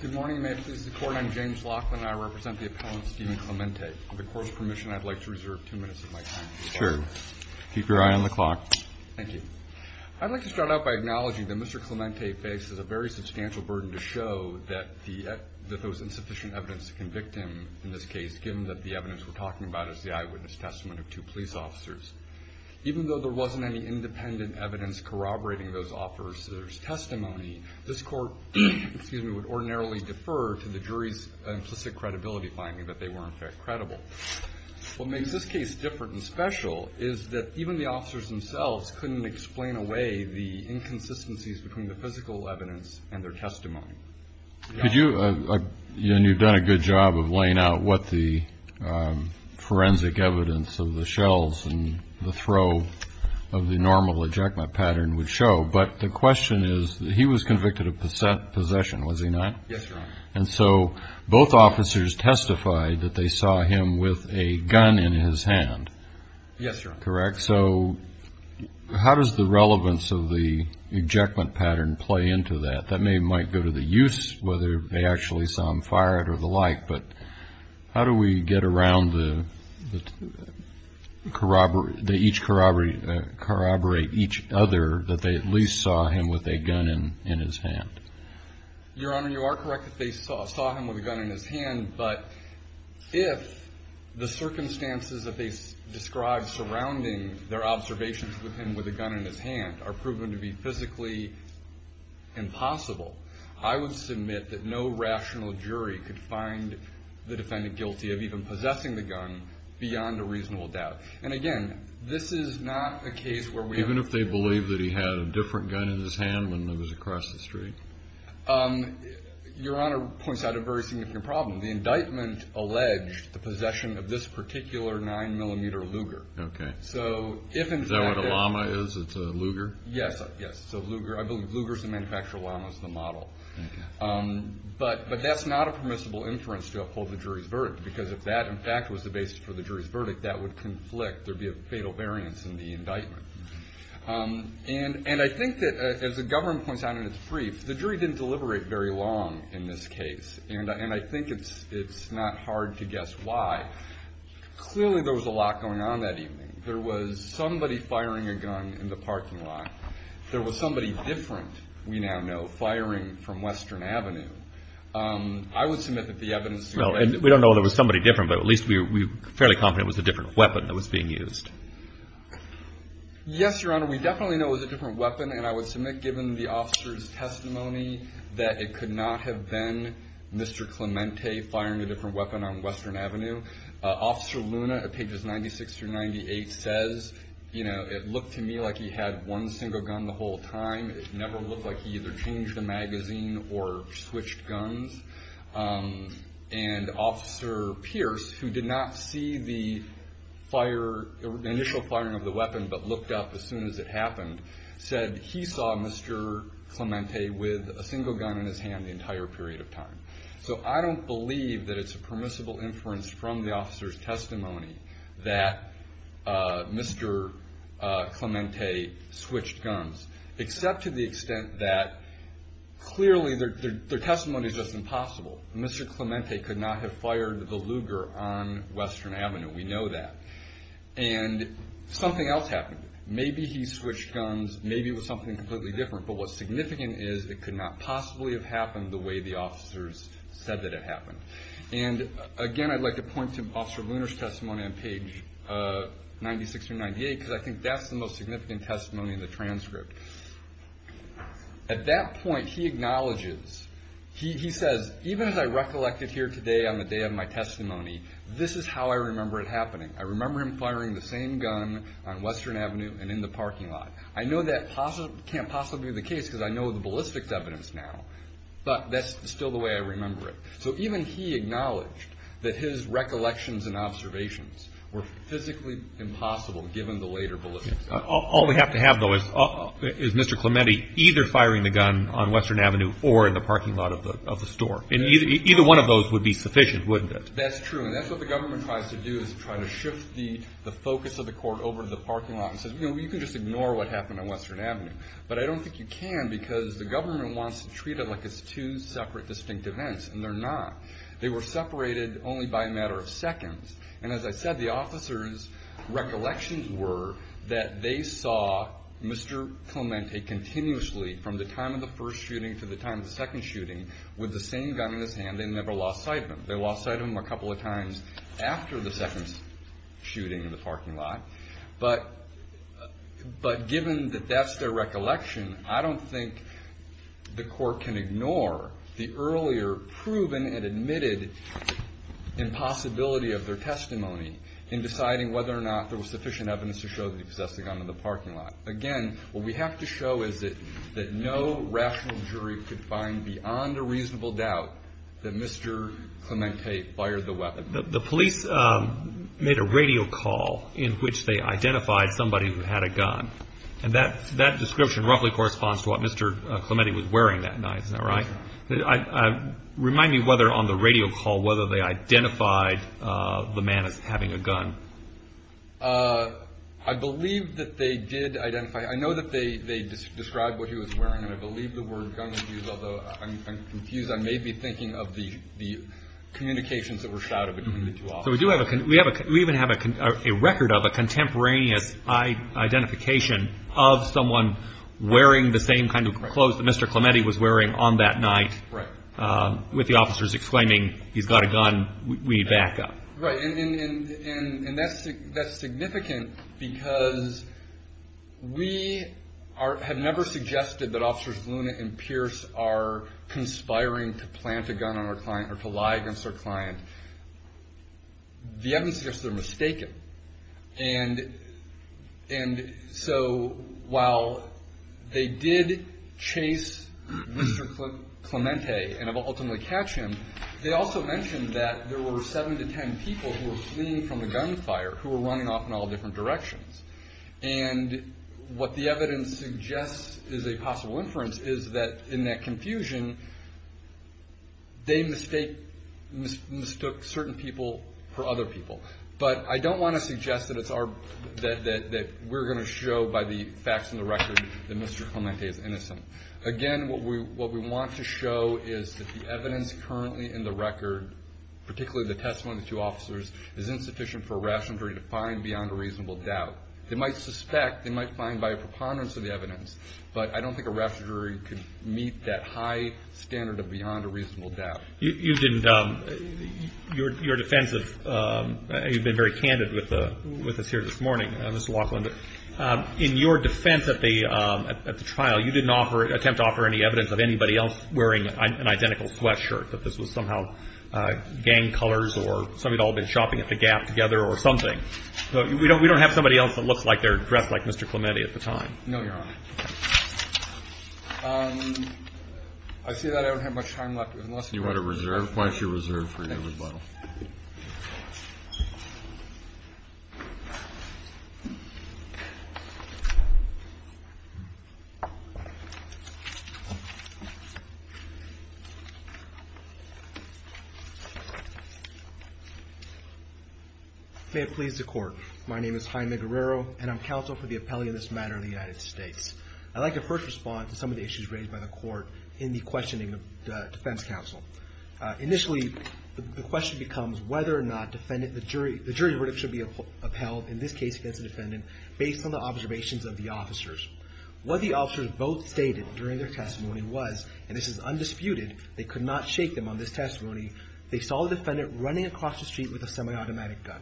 Good morning, may it please the court. I'm James Laughlin and I represent the appellant Stephen Clemente. With the court's permission, I'd like to reserve two minutes of my time. Sure. Keep your eye on the clock. Thank you. I'd like to start out by acknowledging that Mr. Clemente faces a very substantial burden to show that there was insufficient evidence to convict him in this case, given that the evidence we're talking about is the eyewitness testimony of two police officers. Even though there wasn't any independent evidence corroborating those officers' testimony, this court would ordinarily defer to the jury's implicit credibility finding that they were, in fact, credible. What makes this case different and special is that even the officers themselves couldn't explain away the inconsistencies between the physical evidence and their testimony. Could you, and you've done a good job of laying out what the forensic evidence of the shells and the throw of the normal ejection pattern would show, but the question is that he was convicted of possession, was he not? Yes, Your Honor. And so both officers testified that they saw him with a gun in his hand. Yes, Your Honor. Correct. So how does the relevance of the ejection pattern play into that? That might go to the use, whether they actually saw him fired or the like, but how do we get around the each corroborate each other that they at least saw him with a gun in his hand? Your Honor, you are correct that they saw him with a gun in his hand, but if the circumstances that they describe surrounding their observations with him with a gun in his hand are proven to be physically impossible, I would submit that no rational jury could find the defendant guilty of even possessing the gun beyond a reasonable doubt. And again, this is not a case where we have... Even if they believe that he had a different gun in his hand when it was across the street? Your Honor points out a very significant problem. The indictment alleged the possession of this particular 9mm Luger. Okay. So if in fact... Yes, yes. So Luger's the manufacturer, Lama's the model. Okay. But that's not a permissible inference to uphold the jury's verdict because if that in fact was the basis for the jury's verdict, that would conflict. There'd be a fatal variance in the indictment. And I think that as the government points out in its brief, the jury didn't deliberate very long in this case, and I think it's not hard to guess why. Clearly there was a lot going on that evening. There was somebody firing a gun in the parking lot. There was somebody different, we now know, firing from Western Avenue. I would submit that the evidence... We don't know if it was somebody different, but at least we're fairly confident it was a different weapon that was being used. Yes, Your Honor, we definitely know it was a different weapon, and I would submit given the officer's testimony that it could not have been Mr. Clemente firing a different weapon on Western Avenue. Officer Luna at pages 96 through 98 says, you know, it looked to me like he had one single gun the whole time. It never looked like he either changed the magazine or switched guns. And Officer Pierce, who did not see the initial firing of the weapon but looked up as soon as it happened, said he saw Mr. Clemente with a single gun in his hand the entire period of time. So I don't believe that it's a permissible inference from the officer's testimony that Mr. Clemente switched guns, except to the extent that clearly their testimony is just impossible. Mr. Clemente could not have fired the Luger on Western Avenue, we know that. And something else happened. Maybe he switched guns, maybe it was something completely different, but what's significant is it could not possibly have happened the way the officers said that it happened. And again, I'd like to point to Officer Luner's testimony on page 96 through 98, because I think that's the most significant testimony in the transcript. At that point, he acknowledges, he says, even as I recollected here today on the day of my testimony, this is how I remember it happening. I remember him firing the same gun on Western Avenue and in the parking lot. I know that can't possibly be the case because I know the ballistics evidence now, but that's still the way I remember it. So even he acknowledged that his recollections and observations were physically impossible, given the later ballistics evidence. All we have to have, though, is Mr. Clemente either firing the gun on Western Avenue or in the parking lot of the store. And either one of those would be sufficient, wouldn't it? That's true, and that's what the government tries to do, is try to shift the focus of the court over to the parking lot and says, you know, you can just ignore what happened on Western Avenue. But I don't think you can, because the government wants to treat it like it's two separate, distinct events, and they're not. They were separated only by a matter of seconds. And as I said, the officers' recollections were that they saw Mr. Clemente continuously, from the time of the first shooting to the time of the second shooting, with the same gun in his hand. They never lost sight of him. They lost sight of him a couple of times after the second shooting in the parking lot. But given that that's their recollection, I don't think the court can ignore the earlier proven and admitted impossibility of their testimony in deciding whether or not there was sufficient evidence to show that he possessed a gun in the parking lot. Again, what we have to show is that no rational jury could find beyond a reasonable doubt that Mr. Clemente fired the weapon. The police made a radio call in which they identified somebody who had a gun. And that description roughly corresponds to what Mr. Clemente was wearing that night, is that right? Remind me whether on the radio call, whether they identified the man as having a gun. I believe that they did identify. I know that they described what he was wearing, and I believe the word gun was used, although I'm confused. I may be thinking of the communications that were shouted between the two officers. We even have a record of a contemporaneous identification of someone wearing the same kind of clothes that Mr. Clemente was wearing on that night. Right. With the officers exclaiming, he's got a gun, we need backup. Right. And that's significant because we have never suggested that Officers Luna and Pierce are conspiring to plant a gun on our client or to lie against our client. The evidence suggests they're mistaken. And so while they did chase Mr. Clemente and ultimately catch him, they also mentioned that there were seven to ten people who were fleeing from the gunfire, who were running off in all different directions. And what the evidence suggests is a possible inference is that in that confusion, they mistook certain people for other people. But I don't want to suggest that we're going to show by the facts in the record that Mr. Clemente is innocent. Again, what we want to show is that the evidence currently in the record, particularly the testimony of the two officers, is insufficient for a rational jury to find beyond a reasonable doubt. They might suspect, they might find by a preponderance of the evidence, but I don't think a rational jury could meet that high standard of beyond a reasonable doubt. You didn't, your defense, you've been very candid with us here this morning, Mr. Laughlin. In your defense at the trial, you didn't attempt to offer any evidence of anybody else wearing an identical sweatshirt, that this was somehow gang colors or somebody had all been shopping at the Gap together or something. We don't have somebody else that looks like they're dressed like Mr. Clemente at the time. No, Your Honor. I see that I don't have much time left. You want to reserve? Why don't you reserve for your rebuttal? May it please the Court. My name is Jaime Guerrero, and I'm counsel for the appellee in this matter of the United States. I'd like to first respond to some of the issues raised by the Court in the questioning of the defense counsel. Initially, the question becomes whether or not the jury verdict should be upheld, in this case against the defendant, based on the observations of the officers. What the officers both stated during their testimony was, and this is undisputed, they could not shake them on this testimony, they saw the defendant running across the street with a semi-automatic gun.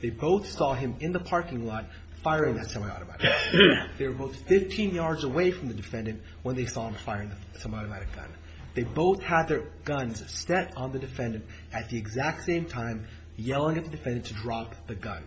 They both saw him in the parking lot firing that semi-automatic gun. They were both 15 yards away from the defendant when they saw him firing the semi-automatic gun. They both had their guns set on the defendant at the exact same time, yelling at the defendant to drop the gun.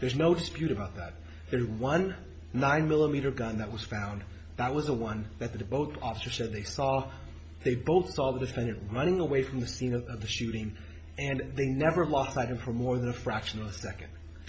There's no dispute about that. There's one 9mm gun that was found. That was the one that both officers said they saw. They both saw the defendant running away from the scene of the shooting, and they never lost sight of him for more than a fraction of a second.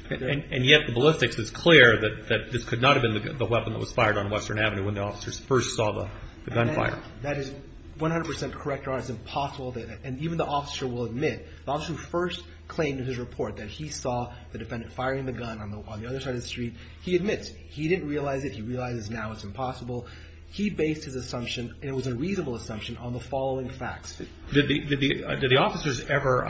And yet the ballistics is clear that this could not have been the weapon that was fired on Western Avenue when the officers first saw the gunfire. That is 100% correct, Your Honor. It's impossible. And even the officer will admit, the officer who first claimed in his report that he saw the defendant firing the gun on the other side of the street, he admits he didn't realize it. He realizes now it's impossible. He based his assumption, and it was a reasonable assumption, on the following facts. Did the officers ever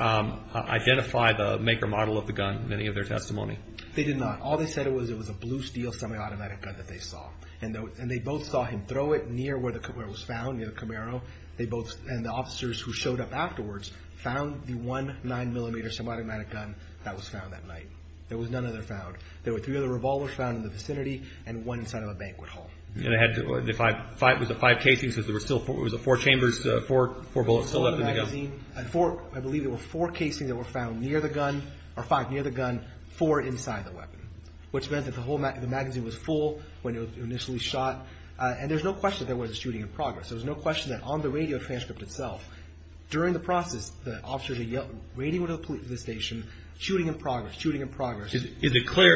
identify the make or model of the gun in any of their testimony? They did not. All they said was it was a blue steel semi-automatic gun that they saw. And they both saw him throw it near where it was found, near the Camaro. And the officers who showed up afterwards found the one 9mm semi-automatic gun that was found that night. There was none other found. There were three other revolvers found in the vicinity and one inside of a banquet hall. It was the five casings because there were still four chambers, four bullets still left in the gun. I believe there were four casings that were found near the gun, or five near the gun, four inside the weapon, which meant that the magazine was full when it was initially shot. And there's no question that there was a shooting in progress. There's no question that on the radio transcript itself, during the process, the officers are yelling, radioing to the police station, shooting in progress, shooting in progress. Is it clear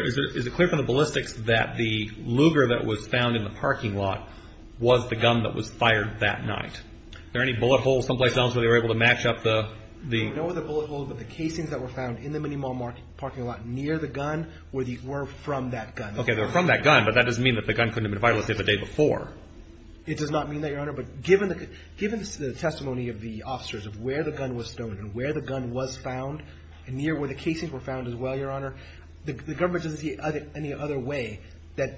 from the ballistics that the Luger that was found in the parking lot was the gun that was fired that night? Are there any bullet holes someplace else where they were able to match up the… No other bullet holes, but the casings that were found in the Minnie Mall parking lot near the gun were from that gun. Okay, they were from that gun, but that doesn't mean that the gun couldn't have been fired the day before. It does not mean that, Your Honor. But given the testimony of the officers of where the gun was found, and near where the casings were found as well, Your Honor, the government doesn't see any other way that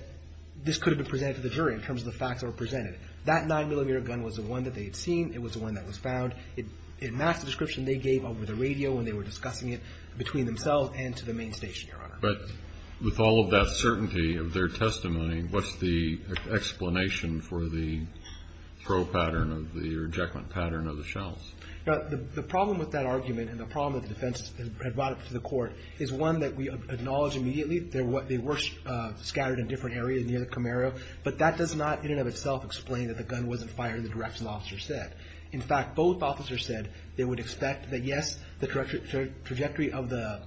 this could have been presented to the jury in terms of the facts that were presented. That 9mm gun was the one that they had seen. It was the one that was found. It matched the description they gave over the radio when they were discussing it between themselves and to the main station, Your Honor. But with all of that certainty of their testimony, what's the explanation for the throw pattern, or the ejection pattern of the shells? The problem with that argument and the problem that the defense had brought up to the court is one that we acknowledge immediately. They were scattered in different areas near the Camaro, but that does not in and of itself explain that the gun wasn't fired in the direction the officers said. In fact, both officers said they would expect that, yes, the trajectory of the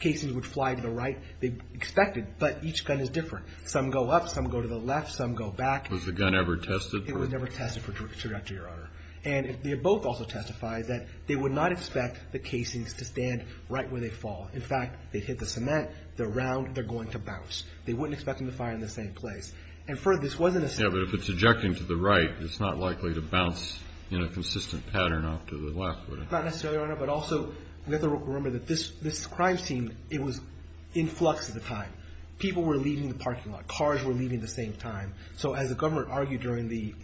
casings would fly to the right. They expected, but each gun is different. Some go up. Some go to the left. Some go back. Was the gun ever tested? It was never tested for trajectory, Your Honor. And they both also testified that they would not expect the casings to stand right where they fall. In fact, they hit the cement. They're round. They're going to bounce. They wouldn't expect them to fire in the same place. And further, this wasn't a… Yeah, but if it's ejecting to the right, it's not likely to bounce in a consistent pattern off to the left, would it? Not necessarily, Your Honor. But also, we have to remember that this crime scene, it was in flux at the time. People were leaving the parking lot. Cars were leaving at the same time. So as the governor argued during the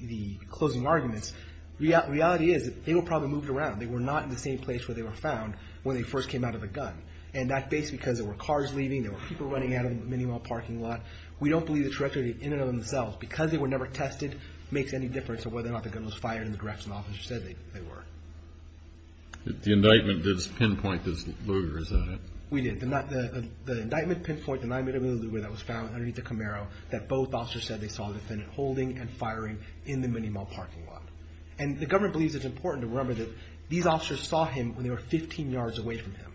closing arguments, reality is they were probably moved around. They were not in the same place where they were found when they first came out of the gun. And that's basically because there were cars leaving. There were people running out of Minnie Mall parking lot. We don't believe the trajectory in and of themselves. Because they were never tested makes any difference of whether or not the gun was fired in the direction the officer said they were. The indictment does pinpoint this luger, is that it? We did. The indictment pinpoints the night of the luger that was found underneath the Camaro that both officers said they saw the defendant holding and firing in the Minnie Mall parking lot. And the government believes it's important to remember that these officers saw him when they were 15 yards away from him.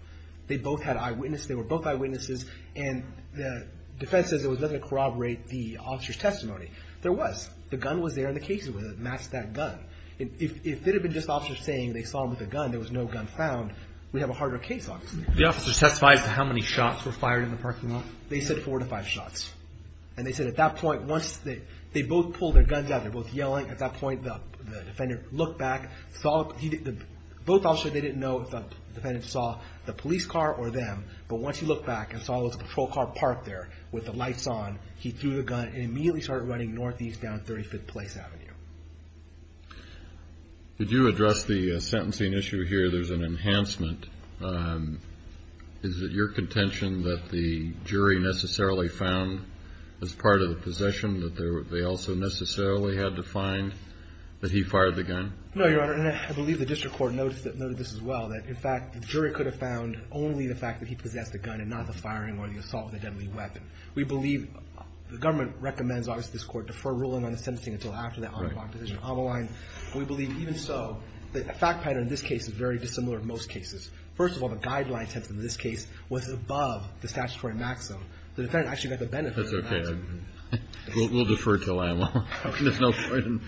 They both had eyewitnesses. They were both eyewitnesses. And the defense says there was nothing to corroborate the officer's testimony. There was. The gun was there and the case was masked that gun. If it had been just officers saying they saw him with a gun, there was no gun found, we'd have a harder case, obviously. The officer testified to how many shots were fired in the parking lot? They said four to five shots. And they said at that point, once they both pulled their guns out, they're both yelling, at that point the defendant looked back, both officers, they didn't know if the defendant saw the police car or them. But once he looked back and saw there was a patrol car parked there with the lights on, he threw the gun and immediately started running northeast down 35th Place Avenue. Did you address the sentencing issue here? There's an enhancement. Is it your contention that the jury necessarily found as part of the possession that they also necessarily had to find that he fired the gun? No, Your Honor. And I believe the district court noted this as well, that, in fact, the jury could have found only the fact that he possessed the gun and not the firing or the assault with a deadly weapon. We believe the government recommends, obviously, this court, defer ruling on the sentencing until after that on-the-block decision. We believe, even so, the fact pattern in this case is very dissimilar to most cases. First of all, the guideline sentence in this case was above the statutory maximum. The defendant actually got the benefit of the maximum. That's okay. We'll defer until then. There's no point in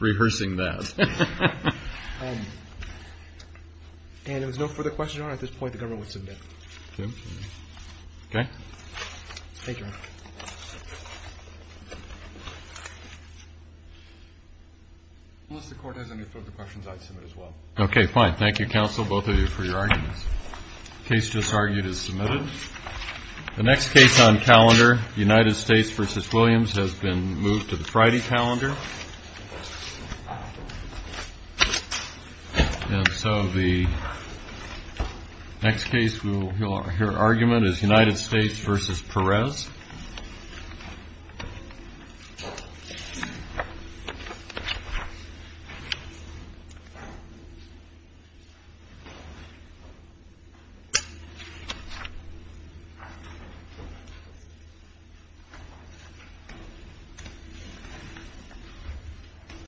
rehearsing that. And if there's no further questions, Your Honor, at this point the government would submit. Okay. Okay? Thank you, Your Honor. Unless the court has any further questions, I'd submit as well. Okay, fine. Thank you, counsel, both of you, for your arguments. The case just argued is submitted. The next case on calendar, United States v. Williams, has been moved to the Friday calendar. And so the next case we'll hear argument is United States v. Perez. Thank you.